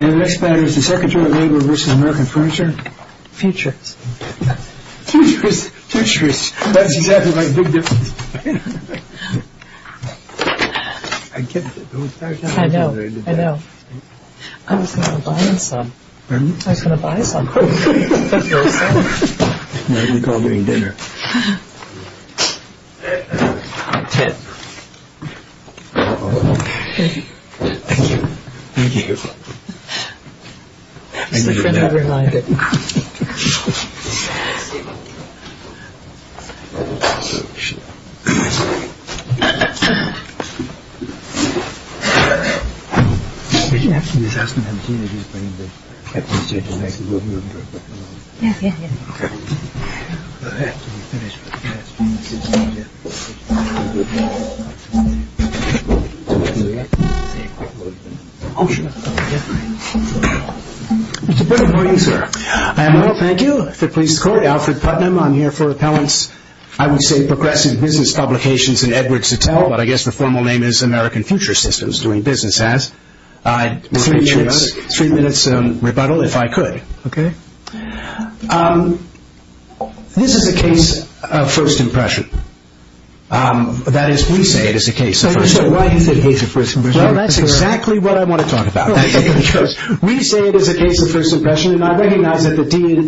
And the next batter is the Secretary of Labor v. American Furniture. Futurist. Futurist. Futurist. That's exactly my big difference. I get that. I know. I know. I was going to buy some. Pardon me? I was going to buy some. I didn't recall doing dinner. Thank you. Thank you. This is the friend of your life. It's a good morning, sir. I am well, thank you. If it pleases the court, Alfred Putnam. I'm here for Appellant's, I would say, progressive business publications in Edwards Hotel, but I guess the formal name is American Future Systems, doing business as. Three minutes rebuttal, if I could. Okay. This is a case of first impression. That is, we say it is a case of first impression. So why is it a case of first impression? Well, that's exactly what I want to talk about. We say it is a case of first impression, and I recognize that the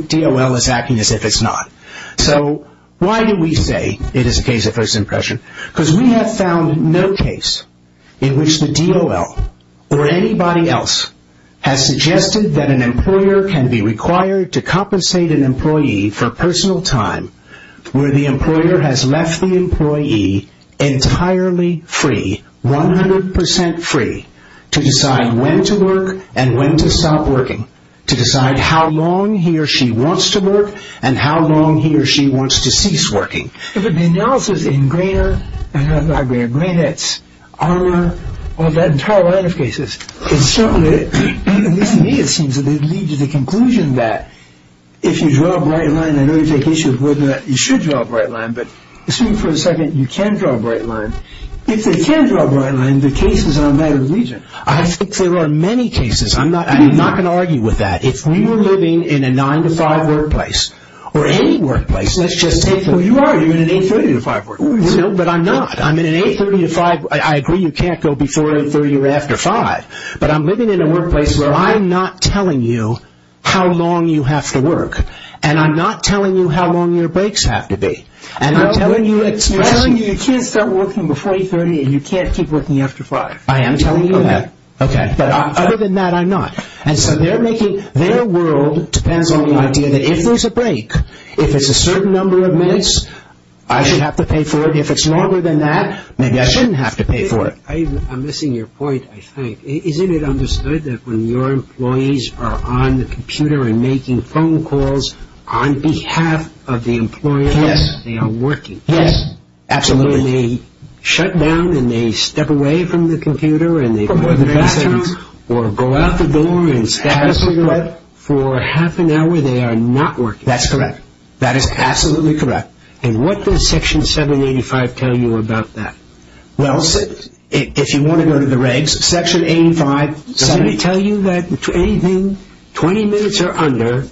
DOL is acting as if it's not. So why do we say it is a case of first impression? Because we have found no case in which the DOL or anybody else has suggested that an employer can be required to compensate an employee for personal time where the employer has left the employee entirely free, 100% free, to decide when to work and when to stop working, to decide how long he or she wants to work and how long he or she wants to cease working. If it be analysis in Grainer, and I have a library of Grainettes, Armour, all that entire line of cases. It's something that, at least to me, it seems to lead to the conclusion that if you draw a bright line, I know you take issue with whether or not you should draw a bright line, but assume for a second you can draw a bright line. If they can draw a bright line, the case is on a matter of reason. I think there are many cases. I'm not going to argue with that. If we were living in a 9-to-5 workplace, or any workplace, let's just take... Well, you are. You're in an 830-to-5 workplace. No, but I'm not. I'm in an 830-to-5. I agree you can't go before 830 or after 5, but I'm living in a workplace where I'm not telling you how long you have to work, and I'm not telling you how long your breaks have to be. I'm telling you you can't start working before 830 and you can't keep working after 5. I am telling you that. Okay. But other than that, I'm not. And so they're making... Their world depends on the idea that if there's a break, if it's a certain number of minutes, I should have to pay for it. If it's longer than that, maybe I shouldn't have to pay for it. I'm missing your point, I think. Isn't it understood that when your employees are on the computer and making phone calls on behalf of the employer... Yes. ...they are working? Yes. Absolutely. When they shut down and they step away from the computer and they... For more than 30 seconds. ...or go out the door and... Absolutely correct. ...for half an hour, they are not working? That's correct. That is absolutely correct. And what does Section 785 tell you about that? Well, if you want to go to the regs, Section 885... Does it tell you that anything 20 minutes or under,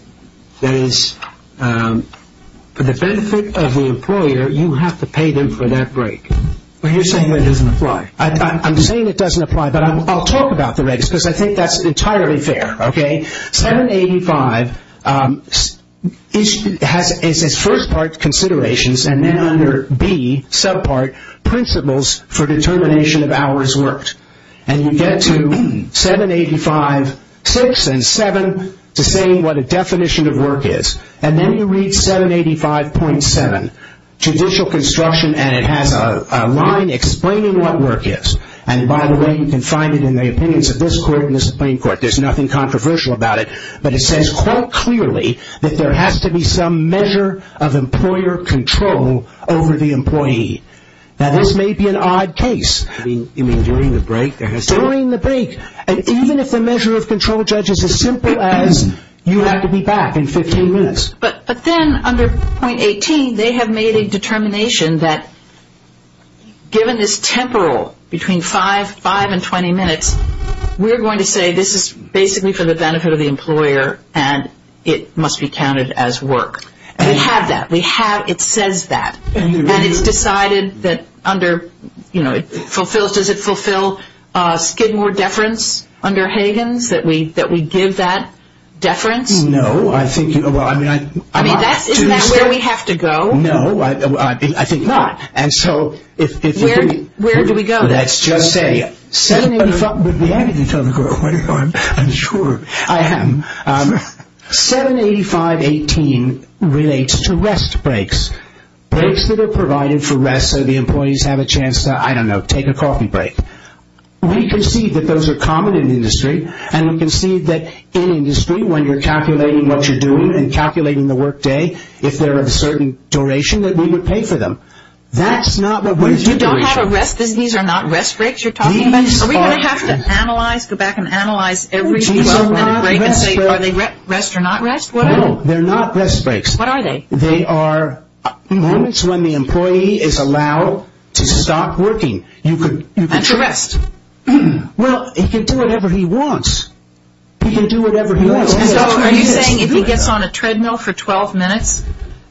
that is, for the benefit of the employer, you have to pay them for that break? Well, you're saying that doesn't apply. I'm saying it doesn't apply, but I'll talk about the regs because I think that's entirely fair, okay? 785 has, it says, first part, considerations, and then under B, subpart, principles for determination of hours worked. And you get to 785.6 and 7 to say what a definition of work is. And then you read 785.7, judicial construction, and it has a line explaining what work is. And by the way, you can find it in the opinions of this court and the Supreme Court. There's nothing controversial about it, but it says quite clearly that there has to be some measure of employer control over the employee. Now, this may be an odd case. You mean during the break? During the break. And even if the measure of control, Judge, is as simple as you have to be back in 15 minutes. But then under point 18, they have made a determination that, given this temporal between 5 and 20 minutes, we're going to say this is basically for the benefit of the employer and it must be counted as work. And we have that. We have, it says that. And it's decided that under, you know, it fulfills, does it fulfill Skidmore deference under Higgins, that we give that deference? No, I think, well, I mean, I'm not. Isn't that where we have to go? No, I think not. And so, if we're going to. Where do we go then? Well, let's just say, 785, would we have anything to tell the court? I'm sure. I am. 785.18 relates to rest breaks. Breaks that are provided for rest so the employees have a chance to, I don't know, take a coffee break. We concede that those are common in industry. And we concede that in industry, when you're calculating what you're doing and calculating the workday, if they're of a certain duration, that we would pay for them. That's not what we're doing. You don't have a rest, these are not rest breaks you're talking about? Are we going to have to analyze, go back and analyze every 12-minute break and say, are they rest or not rest? No, they're not rest breaks. What are they? They are moments when the employee is allowed to stop working. And to rest. Well, he can do whatever he wants. He can do whatever he wants. So are you saying if he gets on a treadmill for 12 minutes,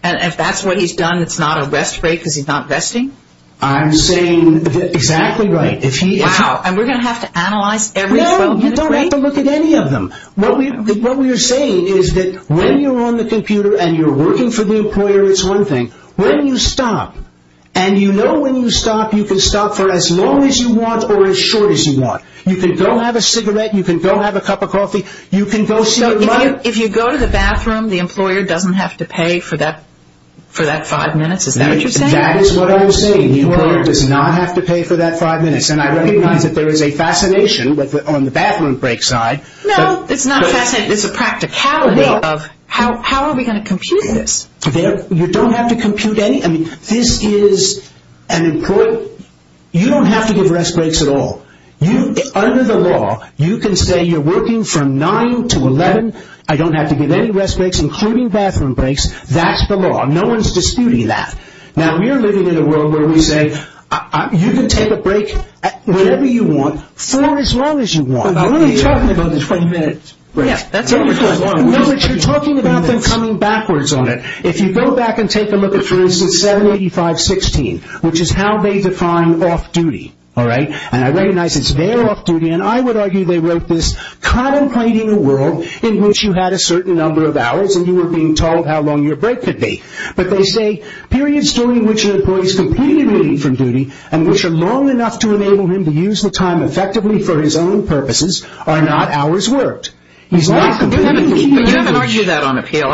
and if that's what he's done, it's not a rest break because he's not resting? I'm saying, exactly right. Wow, and we're going to have to analyze every 12-minute break? No, you don't have to look at any of them. What we're saying is that when you're on the computer and you're working for the employer, it's one thing. When you stop, and you know when you stop, you can stop for as long as you want or as short as you want. You can go have a cigarette, you can go have a cup of coffee, you can go see your mother. So if you go to the bathroom, the employer doesn't have to pay for that five minutes? Is that what you're saying? That is what I'm saying. The employer does not have to pay for that five minutes. And I recognize that there is a fascination on the bathroom break side. No, it's not a fascination. It's a practicality of how are we going to compute this? You don't have to compute any. This is an employer. You don't have to give rest breaks at all. Under the law, you can say you're working from 9 to 11. I don't have to give any rest breaks, including bathroom breaks. That's the law. No one's disputing that. Now, we're living in a world where we say you can take a break whenever you want for as long as you want. But we're only talking about the 20 minute break. No, but you're talking about them coming backwards on it. If you go back and take a look at, for instance, 785.16, which is how they define off-duty. And I recognize it's their off-duty. And I would argue they wrote this contemplating a world in which you had a certain number of hours and you were being told how long your break could be. But they say periods during which an employee is completely relieved from duty and which are long enough to enable him to use the time effectively for his own purposes are not hours worked. He's not completely relieved. You haven't argued that on appeal.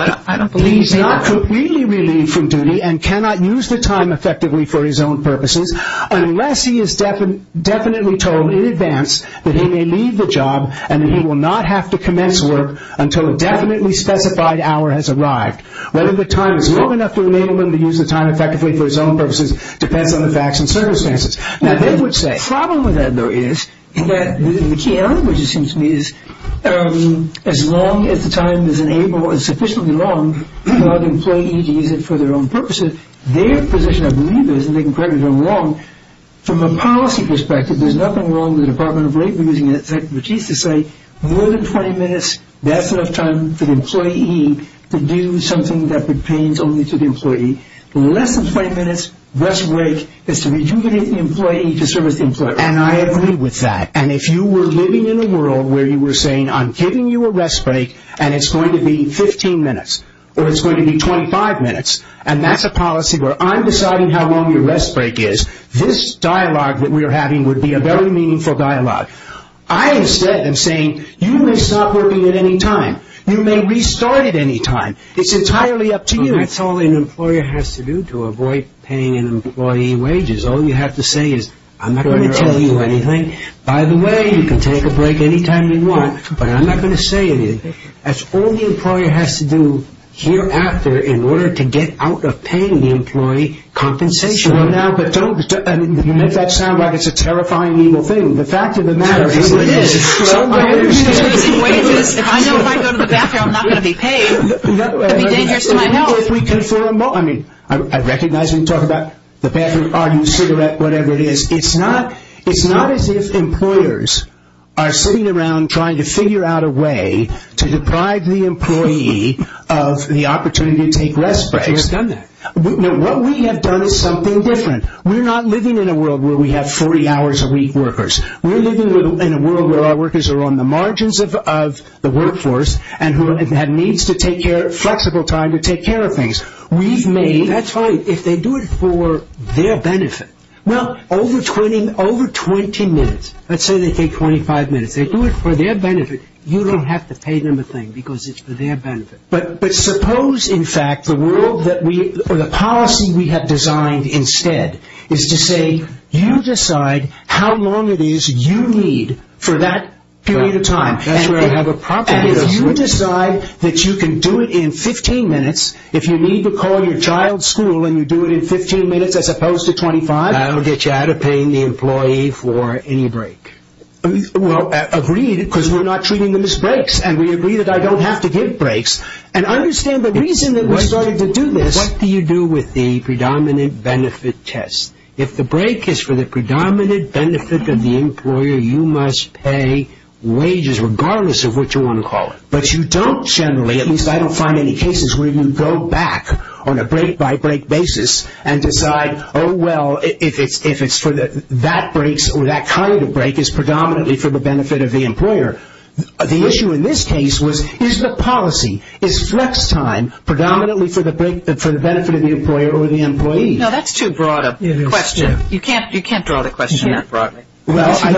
He's not completely relieved from duty and cannot use the time effectively for his own purposes unless he is definitely told in advance that he may leave the job and that he will not have to commence work until a definitely specified hour has arrived. Whether the time is long enough to enable him to use the time effectively for his own purposes depends on the facts and circumstances. Now, the problem with that, though, is that the key language, it seems to me, is as long as the time is sufficiently long for the employee to use it for their own purposes, their position, I believe, is, and they can correct me if I'm wrong, from a policy perspective, there's nothing wrong with the Department of Labor using its expertise to say more than 20 minutes, that's enough time for the employee to do something that pertains only to the employee. Less than 20 minutes, rest break is to rejuvenate the employee to serve as the employee. And I agree with that. And if you were living in a world where you were saying, I'm giving you a rest break and it's going to be 15 minutes or it's going to be 25 minutes, and that's a policy where I'm deciding how long your rest break is, this dialogue that we are having would be a very meaningful dialogue. I, instead, am saying, you may stop working at any time. You may restart at any time. It's entirely up to you. That's all an employer has to do to avoid paying an employee wages. All you have to say is, I'm not going to tell you anything. By the way, you can take a break any time you want, but I'm not going to say anything. That's all the employer has to do hereafter in order to get out of paying the employee compensation. Well, now, but don't, you make that sound like it's a terrifying, evil thing. The fact of the matter is it is. I know if I go to the bathroom, I'm not going to be paid. It would be dangerous to my health. I mean, I recognize when you talk about the bathroom, arguing, cigarette, whatever it is. It's not as if employers are sitting around trying to figure out a way to deprive the employee of the opportunity to take rest breaks. But you have done that. No, what we have done is something different. We're not living in a world where we have 40 hours a week workers. We're living in a world where our workers are on the margins of the workforce and who have needs to take care, flexible time to take care of things. We've made. That's fine. If they do it for their benefit. Well, over 20, over 20 minutes. Let's say they take 25 minutes. They do it for their benefit. You don't have to pay them a thing because it's for their benefit. But suppose, in fact, the world that we or the policy we have designed instead is to say you decide how long it is you need for that period of time. That's where I have a problem. And if you decide that you can do it in 15 minutes, if you need to call your child's school and you do it in 15 minutes as opposed to 25. That will get you out of paying the employee for any break. Well, agreed because we're not treating them as breaks. And we agree that I don't have to give breaks. And understand the reason that we started to do this. What do you do with the predominant benefit test? If the break is for the predominant benefit of the employer, you must pay wages regardless of what you want to call it. But you don't generally, at least I don't find any cases where you go back on a break-by-break basis and decide, oh, well, if it's for that break or that kind of break, it's predominantly for the benefit of the employer. The issue in this case was is the policy, is flex time predominantly for the benefit of the employer or the employee? No, that's too broad a question. You can't draw the question that broadly. What is the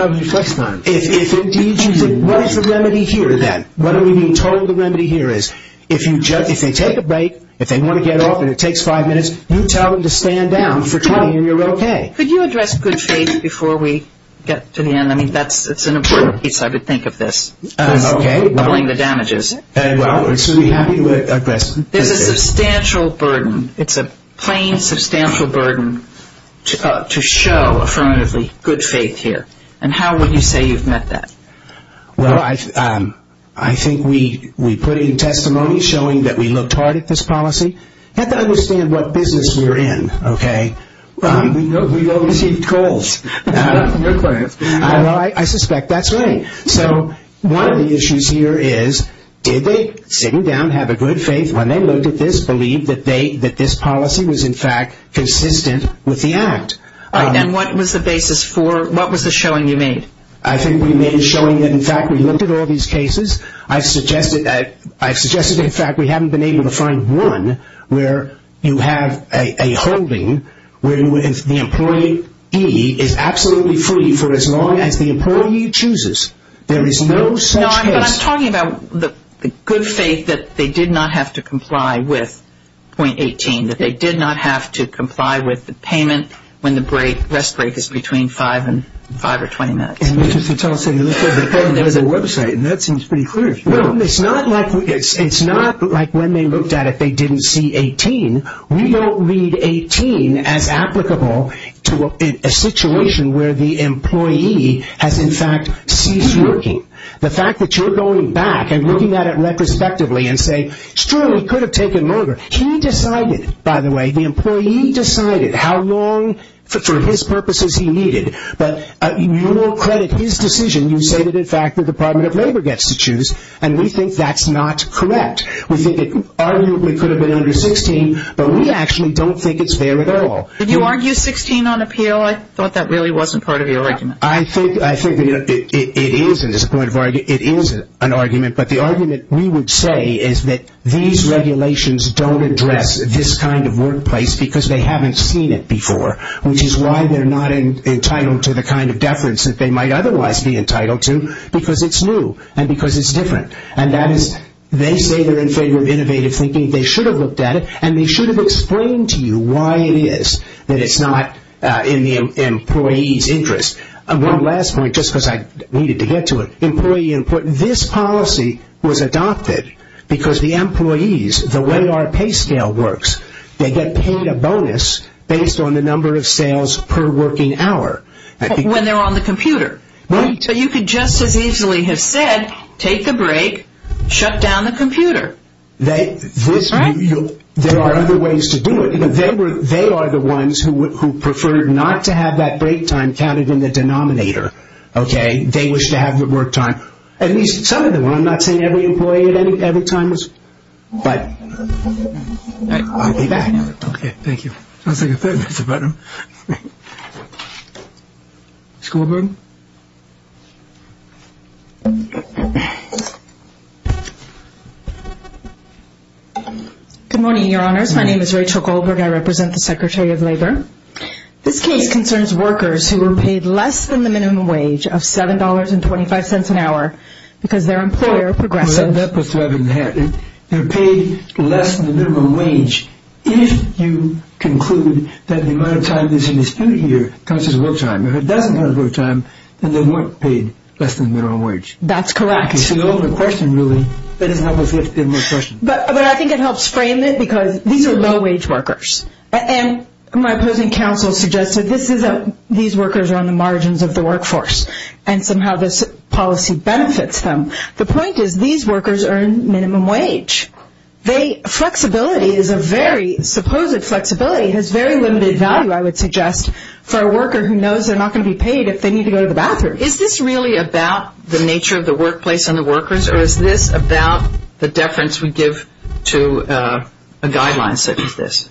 remedy here then? What are we being told the remedy here is if they take a break, if they want to get off and it takes five minutes, you tell them to stand down for 20 and you're okay. Could you address good faith before we get to the end? I mean, that's an important piece I would think of this. Okay. Doubling the damages. Well, we're happy to address this. This is a substantial burden. It's a plain substantial burden to show affirmatively good faith here. And how would you say you've met that? Well, I think we put in testimony showing that we looked hard at this policy. You have to understand what business we're in, okay? We've all received calls. I suspect that's right. So one of the issues here is did they, sitting down, have a good faith when they looked at this, believe that this policy was, in fact, consistent with the act? And what was the basis for, what was the showing you made? I think we made a showing that, in fact, we looked at all these cases. I've suggested, in fact, we haven't been able to find one where you have a holding where the employee is absolutely free for as long as the employee chooses. There is no such case. No, but I'm talking about the good faith that they did not have to comply with .18, that they did not have to comply with the payment when the rest break is between 5 and 5 or 20 minutes. Mr. Sotelo said they looked at it on their website, and that seems pretty clear. Well, it's not like when they looked at it they didn't see .18. We don't read .18 as applicable to a situation where the employee has, in fact, ceased working. The fact that you're going back and looking at it retrospectively and say, sure, he could have taken longer. He decided, by the way, the employee decided how long, for his purposes, he needed. But you will credit his decision. You say that, in fact, the Department of Labor gets to choose, and we think that's not correct. We think it arguably could have been under .16, but we actually don't think it's there at all. Did you argue .16 on appeal? I thought that really wasn't part of your argument. I think it is an argument, but the argument we would say is that these regulations don't address this kind of workplace because they haven't seen it before, which is why they're not entitled to the kind of deference that they might otherwise be entitled to because it's new and because it's different. They say they're in favor of innovative thinking. They should have looked at it, and they should have explained to you why it is that it's not in the employee's interest. One last point, just because I needed to get to it. This policy was adopted because the employees, the way our pay scale works, they get paid a bonus based on the number of sales per working hour. When they're on the computer. So you could just as easily have said, take the break, shut down the computer. There are other ways to do it. They are the ones who prefer not to have that break time counted in the denominator. They wish to have the work time, at least some of them. I'm not saying every employee at every time was, but. Okay, thank you. School board. Good morning, your honors. My name is Rachel Goldberg. I represent the Secretary of Labor. This case concerns workers who were paid less than the minimum wage of $7.25 an hour because their employer progressed. They're paid less than the minimum wage if you conclude that the amount of time that's in dispute here counts as work time. If it doesn't count as work time, then they weren't paid less than the minimum wage. That's correct. It's an open question, really. But I think it helps frame it because these are low-wage workers. And my opposing counsel suggested these workers are on the margins of the workforce, and somehow this policy benefits them. The point is these workers earn minimum wage. Flexibility is a very, supposed flexibility has very limited value, I would suggest, for a worker who knows they're not going to be paid if they need to go to the bathroom. Is this really about the nature of the workplace and the workers, or is this about the deference we give to a guideline such as this?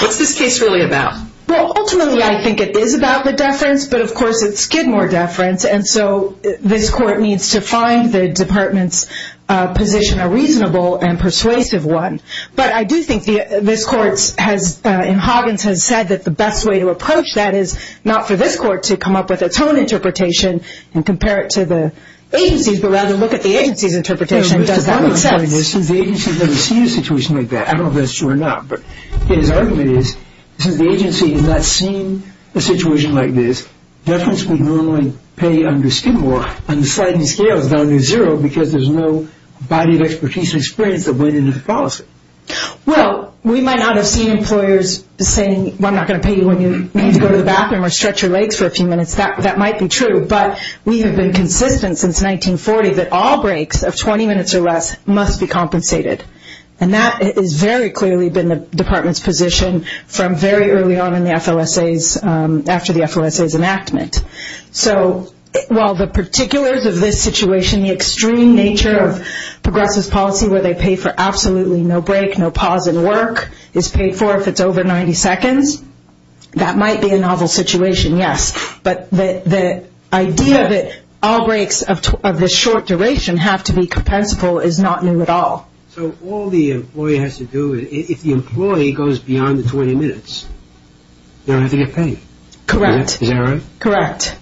What's this case really about? Well, ultimately I think it is about the deference, but of course it's Skidmore deference. And so this court needs to find the department's position a reasonable and persuasive one. But I do think this court in Hoggins has said that the best way to approach that is not for this court to come up with its own interpretation and compare it to the agency's, but rather look at the agency's interpretation and does that make sense? Since the agency has never seen a situation like that, I don't know if that's true or not, but his argument is since the agency has not seen a situation like this, deference would normally pay under Skidmore on the sliding scales down to zero because there's no body of expertise and experience that went into the policy. Well, we might not have seen employers saying, I'm not going to pay you when you need to go to the bathroom or stretch your legs for a few minutes. That might be true, but we have been consistent since 1940 that all breaks of 20 minutes or less must be compensated. And that has very clearly been the department's position from very early on in the FOSAs, after the FOSAs enactment. So while the particulars of this situation, the extreme nature of progressive policy where they pay for absolutely no break, no pause in work is paid for if it's over 90 seconds, that might be a novel situation, yes. But the idea that all breaks of this short duration have to be compensable is not new at all. So all the employer has to do, if the employee goes beyond the 20 minutes, they don't have to get paid. Correct. Is that right? Correct.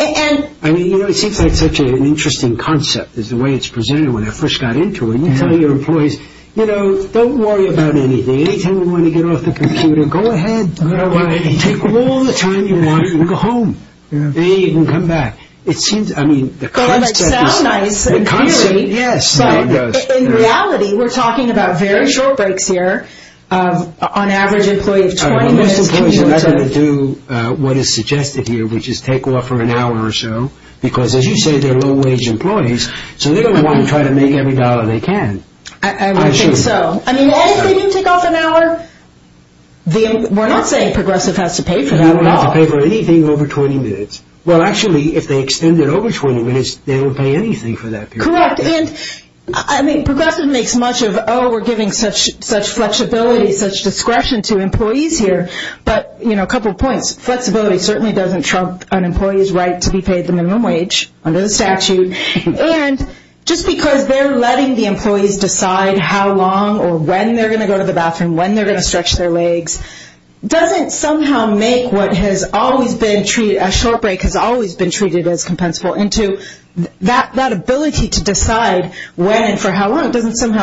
I mean, you know, it seems like such an interesting concept is the way it's presented when I first got into it. You tell your employees, you know, don't worry about anything. Anytime you want to get off the computer, go ahead. All right. Take all the time you want and go home. Then you can come back. It seems, I mean, the concept is... The concept, yes. In reality, we're talking about very short breaks here. On average, an employee of 20 minutes... Most employees are not going to do what is suggested here, which is take off for an hour or so, because as you say, they're low-wage employees, so they don't want to try to make every dollar they can. I think so. I mean, if they do take off an hour, we're not saying progressive has to pay for that at all. You don't have to pay for anything over 20 minutes. Well, actually, if they extend it over 20 minutes, they don't pay anything for that period. Correct. I mean, progressive makes much of, oh, we're giving such flexibility, such discretion to employees here. But, you know, a couple of points. Flexibility certainly doesn't trump an employee's right to be paid the minimum wage under the statute. And just because they're letting the employees decide how long or when they're going to go to the bathroom, when they're going to stretch their legs, doesn't somehow make what has always been treated... doesn't somehow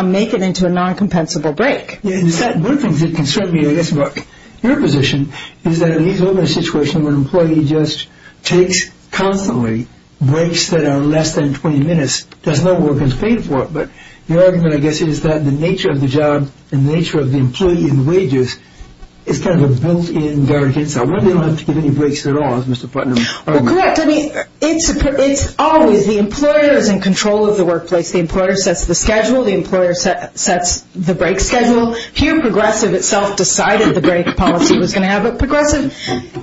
make it into a non-compensable break. One of the things that concerns me, I guess, about your position, is that it leads to a situation where an employee just takes constantly breaks that are less than 20 minutes, does no work and is paid for it. But your argument, I guess, is that the nature of the job and the nature of the employee in wages is kind of a built-in guidance. I wonder if they don't have to give any breaks at all, as Mr. Putnam argues. Correct. I mean, it's always the employer is in control of the workplace. The employer sets the schedule. The employer sets the break schedule. Here, progressive itself decided the break policy was going to have it. Progressive,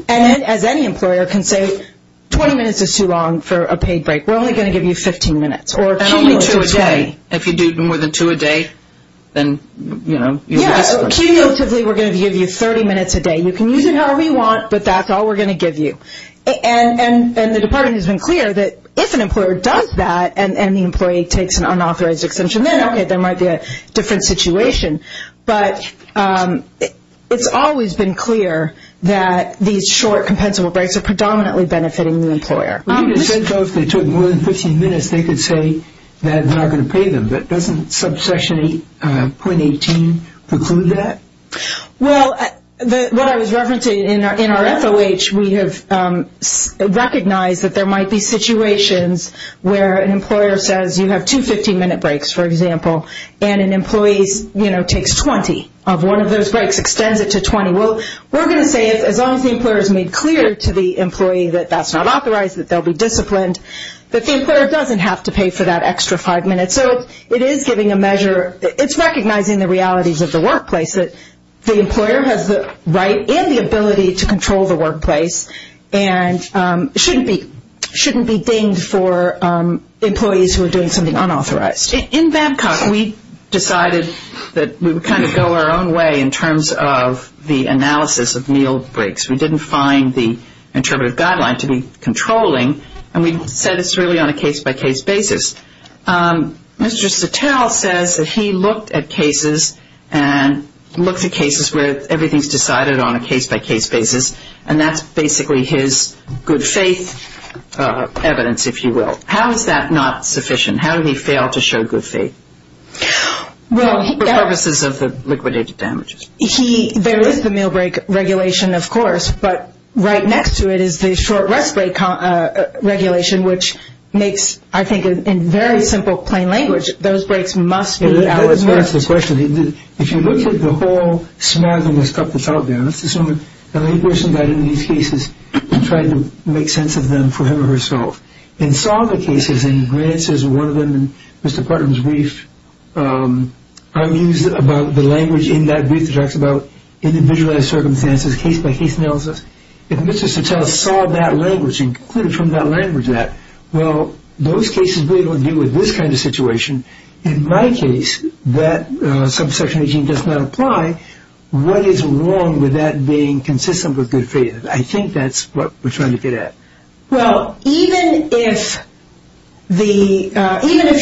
as any employer, can say 20 minutes is too long for a paid break. We're only going to give you 15 minutes or cumulatively. And only two a day. If you do more than two a day, then, you know... Yeah, so cumulatively, we're going to give you 30 minutes a day. You can use it however you want, but that's all we're going to give you. And the department has been clear that if an employer does that, and the employee takes an unauthorized exemption, then, okay, there might be a different situation. But it's always been clear that these short, compensable breaks are predominantly benefiting the employer. Well, you just said, though, if they took more than 15 minutes, they could say that we're not going to pay them. But doesn't subsection 8.18 preclude that? Well, what I was referencing in our FOH, we have recognized that there might be situations where an employer says you have two 15-minute breaks, for example, and an employee takes 20 of one of those breaks, extends it to 20. Well, we're going to say as long as the employer has made clear to the employee that that's not authorized, that they'll be disciplined, that the employer doesn't have to pay for that extra five minutes. So it is giving a measure, it's recognizing the realities of the workplace, that the employer has the right and the ability to control the workplace and shouldn't be dinged for employees who are doing something unauthorized. In Babcock, we decided that we would kind of go our own way in terms of the analysis of meal breaks. We didn't find the interpretive guideline to be controlling, and we said it's really on a case-by-case basis. Mr. Sattel says that he looked at cases and looked at cases where everything is decided on a case-by-case basis, and that's basically his good faith evidence, if you will. How is that not sufficient? How did he fail to show good faith for purposes of the liquidated damages? But right next to it is the short rest break regulation, which makes, I think, in very simple plain language, those breaks must be allotted. That's the question. If you look at the whole smathing of stuff that's out there, let's assume that a person got into these cases and tried to make sense of them for him or herself, and saw the cases, and Grant says one of them in Mr. Parton's brief, I'm using the language in that brief that talks about individualized circumstances, case-by-case analysis. If Mr. Sattel saw that language and concluded from that language that, well, those cases really don't deal with this kind of situation. In my case, that subsection 18 does not apply. What is wrong with that being consistent with good faith? I think that's what we're trying to get at. Well, even if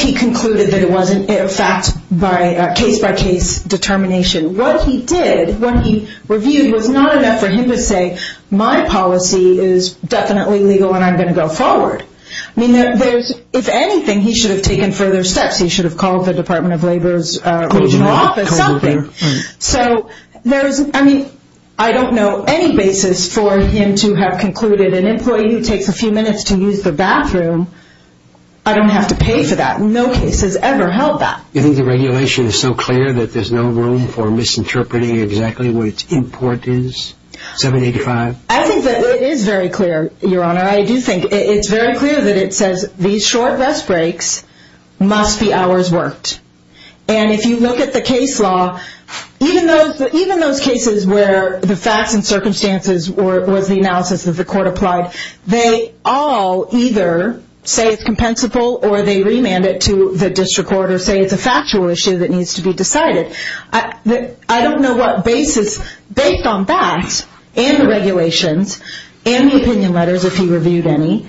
he concluded that it wasn't a fact by case-by-case determination, what he did, what he reviewed was not enough for him to say, my policy is definitely legal and I'm going to go forward. I mean, if anything, he should have taken further steps. He should have called the Department of Labor's regional office, something. I don't know any basis for him to have concluded an employee who takes a few minutes to use the bathroom, I don't have to pay for that. No case has ever held that. Do you think the regulation is so clear that there's no room for misinterpreting exactly what its import is, 785? I think that it is very clear, Your Honor. I do think it's very clear that it says these short rest breaks must be hours worked. And if you look at the case law, even those cases where the facts and circumstances was the analysis that the court applied, they all either say it's compensable or they remand it to the district court or say it's a factual issue that needs to be decided. I don't know what basis, based on that and the regulations and the opinion letters, if he reviewed any,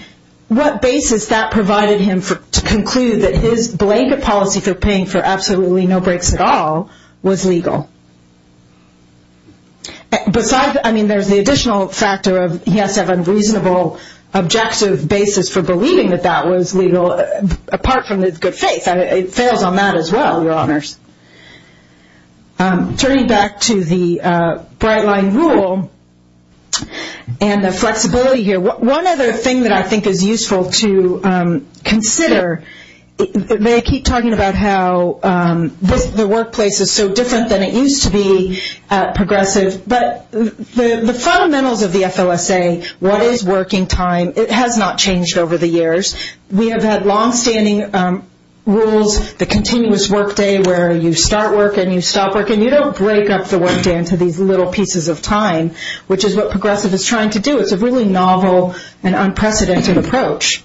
what basis that provided him to conclude that his blanket policy for paying for absolutely no breaks at all was legal. Besides, I mean, there's the additional factor of he has to have a reasonable, objective basis for believing that that was legal, apart from his good faith. It fails on that as well, Your Honors. Turning back to the bright line rule and the flexibility here, one other thing that I think is useful to consider, they keep talking about how the workplace is so different than it used to be at Progressive, but the fundamentals of the FLSA, what is working time, it has not changed over the years. We have had longstanding rules, the continuous workday where you start work and you stop work, and you don't break up the workday into these little pieces of time, which is what Progressive is trying to do. It's a really novel and unprecedented approach.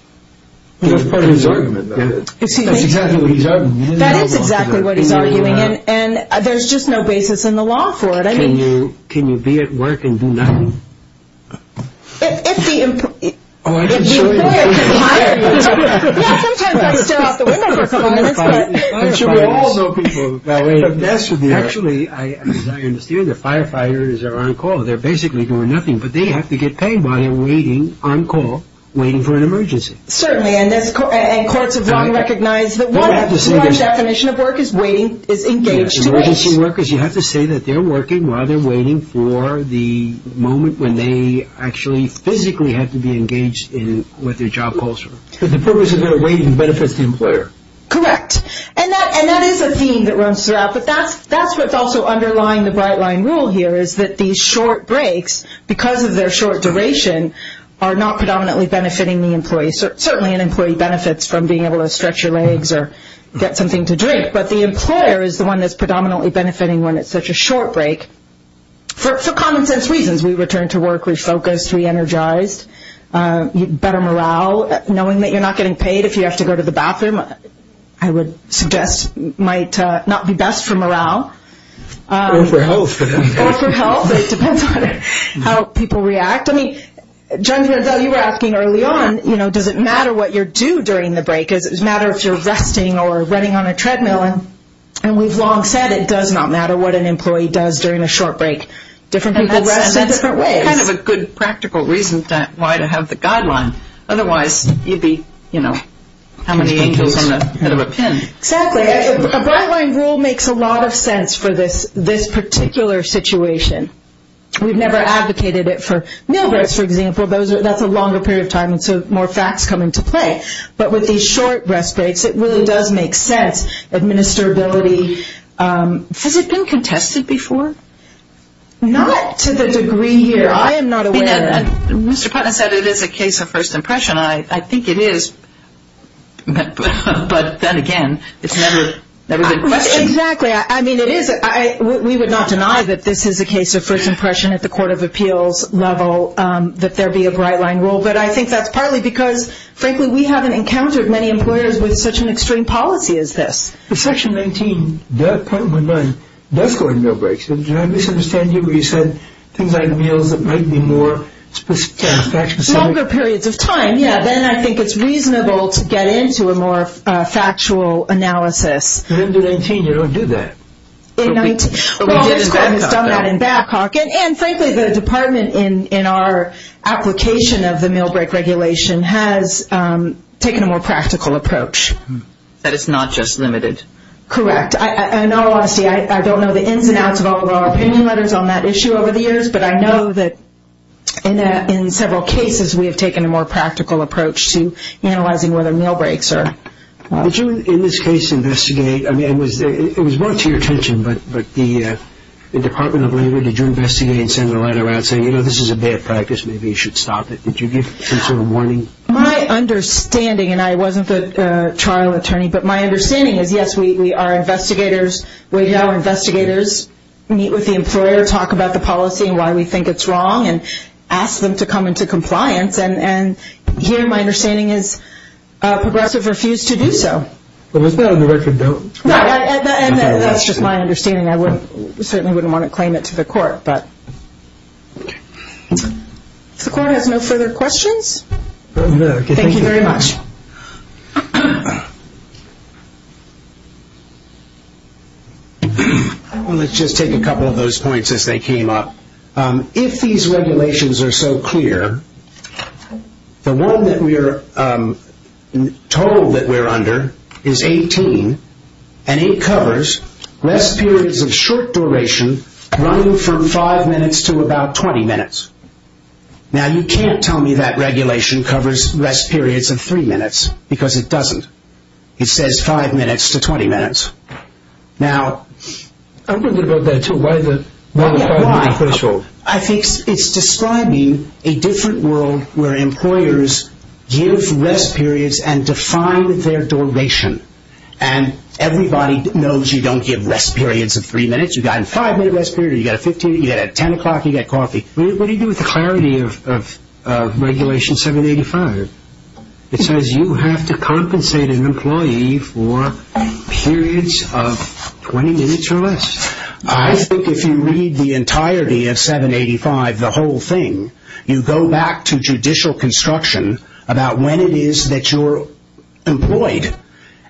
That's part of his argument, though. That's exactly what he's arguing. That is exactly what he's arguing, and there's just no basis in the law for it. Can you be at work and do nothing? If the employer can hire you. Yeah, sometimes I stare out the window for a couple of minutes. Actually, as I understand it, the firefighters are on call. They're basically doing nothing, but they have to get paid while they're waiting on call, waiting for an emergency. Certainly, and courts have long recognized that one large definition of work is waiting, is engaged. Emergency workers, you have to say that they're working while they're waiting for the moment when they actually physically have to be engaged in what their job calls for. The purpose of their waiting benefits the employer. Correct, and that is a theme that runs throughout, but that's what's also underlying the Bright Line rule here is that these short breaks, because of their short duration, are not predominantly benefiting the employee. Certainly, an employee benefits from being able to stretch your legs or get something to drink, but the employer is the one that's predominantly benefiting when it's such a short break for common sense reasons. We return to work refocused, re-energized, better morale. Knowing that you're not getting paid if you have to go to the bathroom, I would suggest might not be best for morale. Or for health. Or for health. It depends on how people react. I mean, Jennifer, though you were asking early on, you know, does it matter what you do during the break? Does it matter if you're resting or running on a treadmill? And we've long said it does not matter what an employee does during a short break. Different people rest in different ways. That's kind of a good practical reason why to have the guideline. Otherwise, you'd be, you know, how many angels on the head of a pin? Exactly. A guideline rule makes a lot of sense for this particular situation. We've never advocated it for meal breaks, for example. That's a longer period of time, and so more facts come into play. But with these short rest breaks, it really does make sense. Administrability. Has it been contested before? Not to the degree here. I am not aware of it. I mean, Mr. Putnam said it is a case of first impression. I think it is. But then again, it's never been questioned. Exactly. I mean, it is. We would not deny that this is a case of first impression at the court of appeals level, that there be a bright line rule. But I think that's partly because, frankly, we haven't encountered many employers with such an extreme policy as this. But Section 19.9 does go on meal breaks. Do I misunderstand you? You said things like meals that might be more fact specific. Longer periods of time, yeah. Then I think it's reasonable to get into a more factual analysis. But under 19, you don't do that. But we did it in Backhawk. Backhawk. And frankly, the department in our application of the meal break regulation has taken a more practical approach. That it's not just limited. Correct. In all honesty, I don't know the ins and outs of all of our opinion letters on that issue over the years. But I know that in several cases, we have taken a more practical approach to analyzing whether meal breaks are... Did you, in this case, investigate... I mean, it was brought to your attention, but the Department of Labor, did you investigate and send a letter out saying, you know, this is a bad practice, maybe you should stop it? Did you give some sort of warning? My understanding, and I wasn't the trial attorney, but my understanding is, yes, we are investigators. We have our investigators meet with the employer, talk about the policy and why we think it's wrong, and ask them to come into compliance. And here, my understanding is, Progressive refused to do so. But was that on the record, though? No, and that's just my understanding. I certainly wouldn't want to claim it to the court, but... If the court has no further questions, thank you very much. Well, let's just take a couple of those points as they came up. If these regulations are so clear, the one that we're told that we're under is 18, and it covers less periods of short duration, running from 5 minutes to about 20 minutes. Now, you can't tell me that regulation covers less periods of 3 minutes, because it doesn't. It says 5 minutes to 20 minutes. Now... I wonder about that, too. Why the 5-minute threshold? I think it's describing a different world where employers give rest periods and define their duration. And everybody knows you don't give rest periods of 3 minutes. You've got a 5-minute rest period, you've got a 10 o'clock, you've got coffee. What do you do with the clarity of regulation 785? It says you have to compensate an employee for periods of 20 minutes or less. I think if you read the entirety of 785, the whole thing, you go back to judicial construction about when it is that you're employed.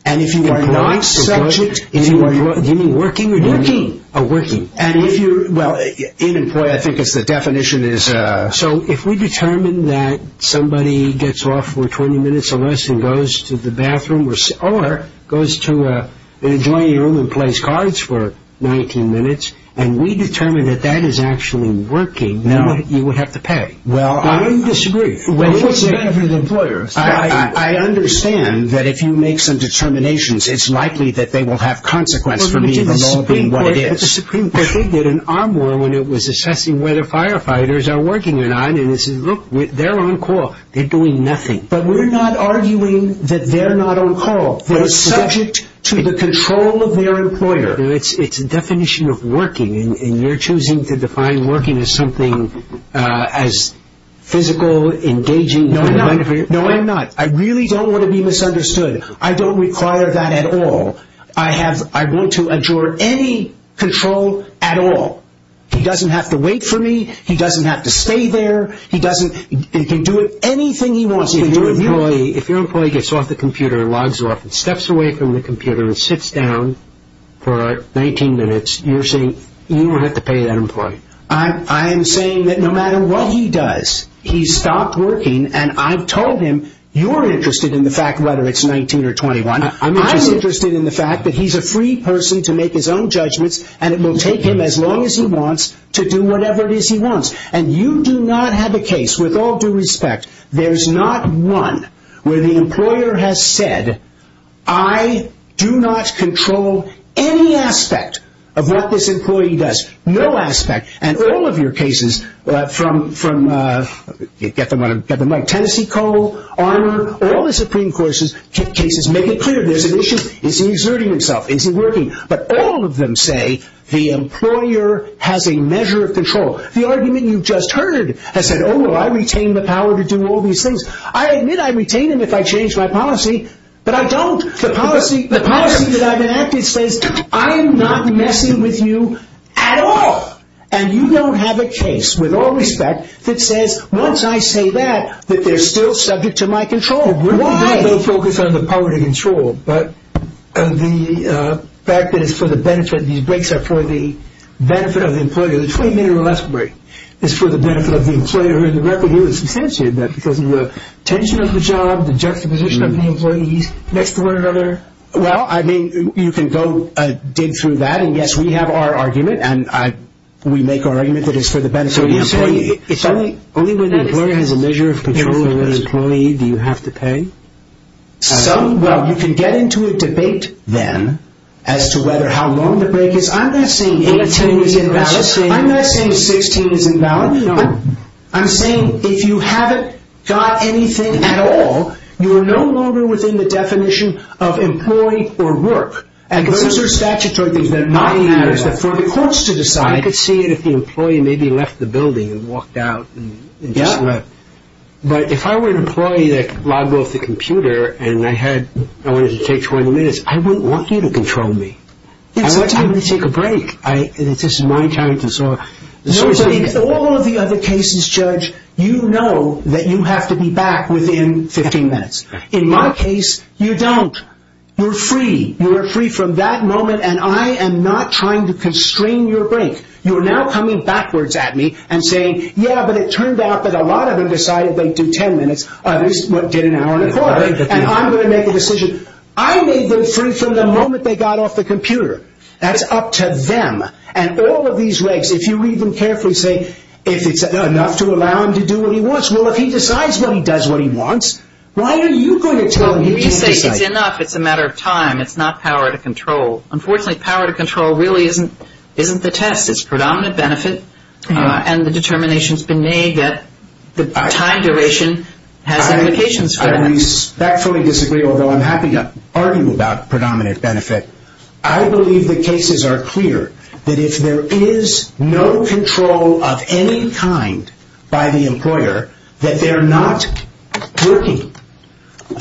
And if you are not subject... Do you mean working or doing? Working. And if you're... Well, in-employed, I think the definition is... So if we determine that somebody gets off for 20 minutes or less and goes to the bathroom or goes to an adjoining room and plays cards for 19 minutes, and we determine that that is actually working, you would have to pay. Well, I... I would disagree. Well, what's the benefit of employers? I understand that if you make some determinations, it's likely that they will have consequence for being involved in what it is. But they did an arm war when it was assessing whether firefighters are working or not, and it says, look, they're on call. They're doing nothing. But we're not arguing that they're not on call. They're subject to the control of their employer. It's a definition of working, and you're choosing to define working as something as physical, engaging... No, I'm not. No, I'm not. I really don't want to be misunderstood. I don't require that at all. I have... I want to adjourn any control at all. He doesn't have to wait for me. He doesn't have to stay there. He doesn't... He can do anything he wants. If your employee gets off the computer and logs off and steps away from the computer and sits down for 19 minutes, you're saying you would have to pay that employee? I am saying that no matter what he does, he stopped working, and I've told him you're interested in the fact whether it's 19 or 21. I'm interested in the fact that he's a free person to make his own judgments, and it will take him as long as he wants to do whatever it is he wants. And you do not have a case, with all due respect, there's not one where the employer has said, I do not control any aspect of what this employee does. No aspect. And all of your cases from... Get the mic. Tennessee Coal, Armor, all the Supreme Court cases make it clear there's an issue. Is he exerting himself? Is he working? But all of them say the employer has a measure of control. The argument you just heard has said, oh, well, I retain the power to do all these things. I admit I retain them if I change my policy, but I don't. The policy that I've enacted says I am not messing with you at all. And you don't have a case, with all respect, that says once I say that, that they're still subject to my control. Why? Because they both focus on the power to control. But the fact that it's for the benefit, these breaks are for the benefit of the employer. The 20-minute or less break is for the benefit of the employer. The record here is substantiated that because of the tension of the job, the juxtaposition of the employees next to one another. Well, I mean, you can go dig through that, and, yes, we have our argument, and we make our argument that it's for the benefit of the employee. So you're saying only when the employer has a measure of control over the employee do you have to pay? Some. Well, you can get into a debate then as to whether how long the break is. I'm not saying 18 is invalid. I'm not saying 16 is invalid. No. I'm saying if you haven't got anything at all, you are no longer within the definition of employee or work. And those are statutory things that are not in here. It's for the courts to decide. I could see it if the employee maybe left the building and walked out and just left. But if I were an employee that logged off the computer and I wanted to take 20 minutes, I wouldn't want you to control me. I'm going to take a break. This is my time. No, but in all of the other cases, Judge, you know that you have to be back within 15 minutes. In my case, you don't. You're free. You are free from that moment, and I am not trying to constrain your break. You are now coming backwards at me and saying, yeah, but it turned out that a lot of them decided they'd do 10 minutes. Others did an hour and a quarter. And I'm going to make a decision. I made them free from the moment they got off the computer. That's up to them. And all of these regs, if you read them carefully, say if it's enough to allow him to do what he wants. Well, if he decides what he does what he wants, why are you going to tell him he can't decide? Well, if you say it's enough, it's a matter of time. It's not power to control. Unfortunately, power to control really isn't the test. This is predominant benefit, and the determination has been made that the time duration has implications for that. I respectfully disagree, although I'm happy to argue about predominant benefit. I believe the cases are clear, that if there is no control of any kind by the employer, that they're not working.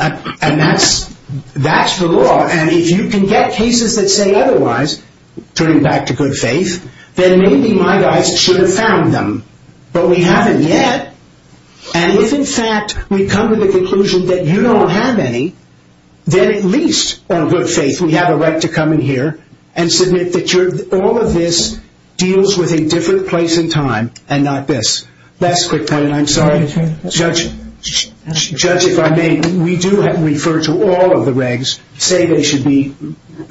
And that's the law. And if you can get cases that say otherwise, turning back to good faith, then maybe my guys should have found them. But we haven't yet. And if, in fact, we come to the conclusion that you don't have any, then at least, on good faith, we have a right to come in here and submit that all of this deals with a different place in time and not this. That's a quick point, and I'm sorry. Judge, if I may, we do refer to all of the regs. They say they should be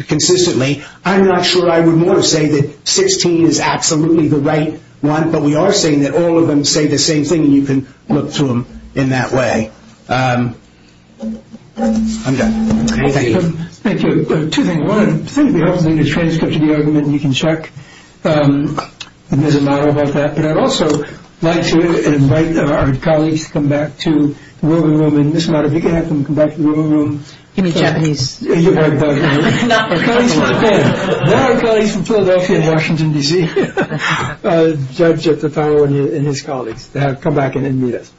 consistently. I'm not sure I would want to say that 16 is absolutely the right one, but we are saying that all of them say the same thing, and you can look to them in that way. I'm done. Thank you. Thank you. Two things. One, I think it would be helpful to get a transcript of the argument, and you can check. It doesn't matter about that. But I'd also like to invite our colleagues to come back to the room. And, Ms. Mata, if you can have them come back to the room. He means Japanese. Japanese. Okay. There are colleagues from Philadelphia and Washington, D.C. Judge Tataro and his colleagues. They have to come back and meet us.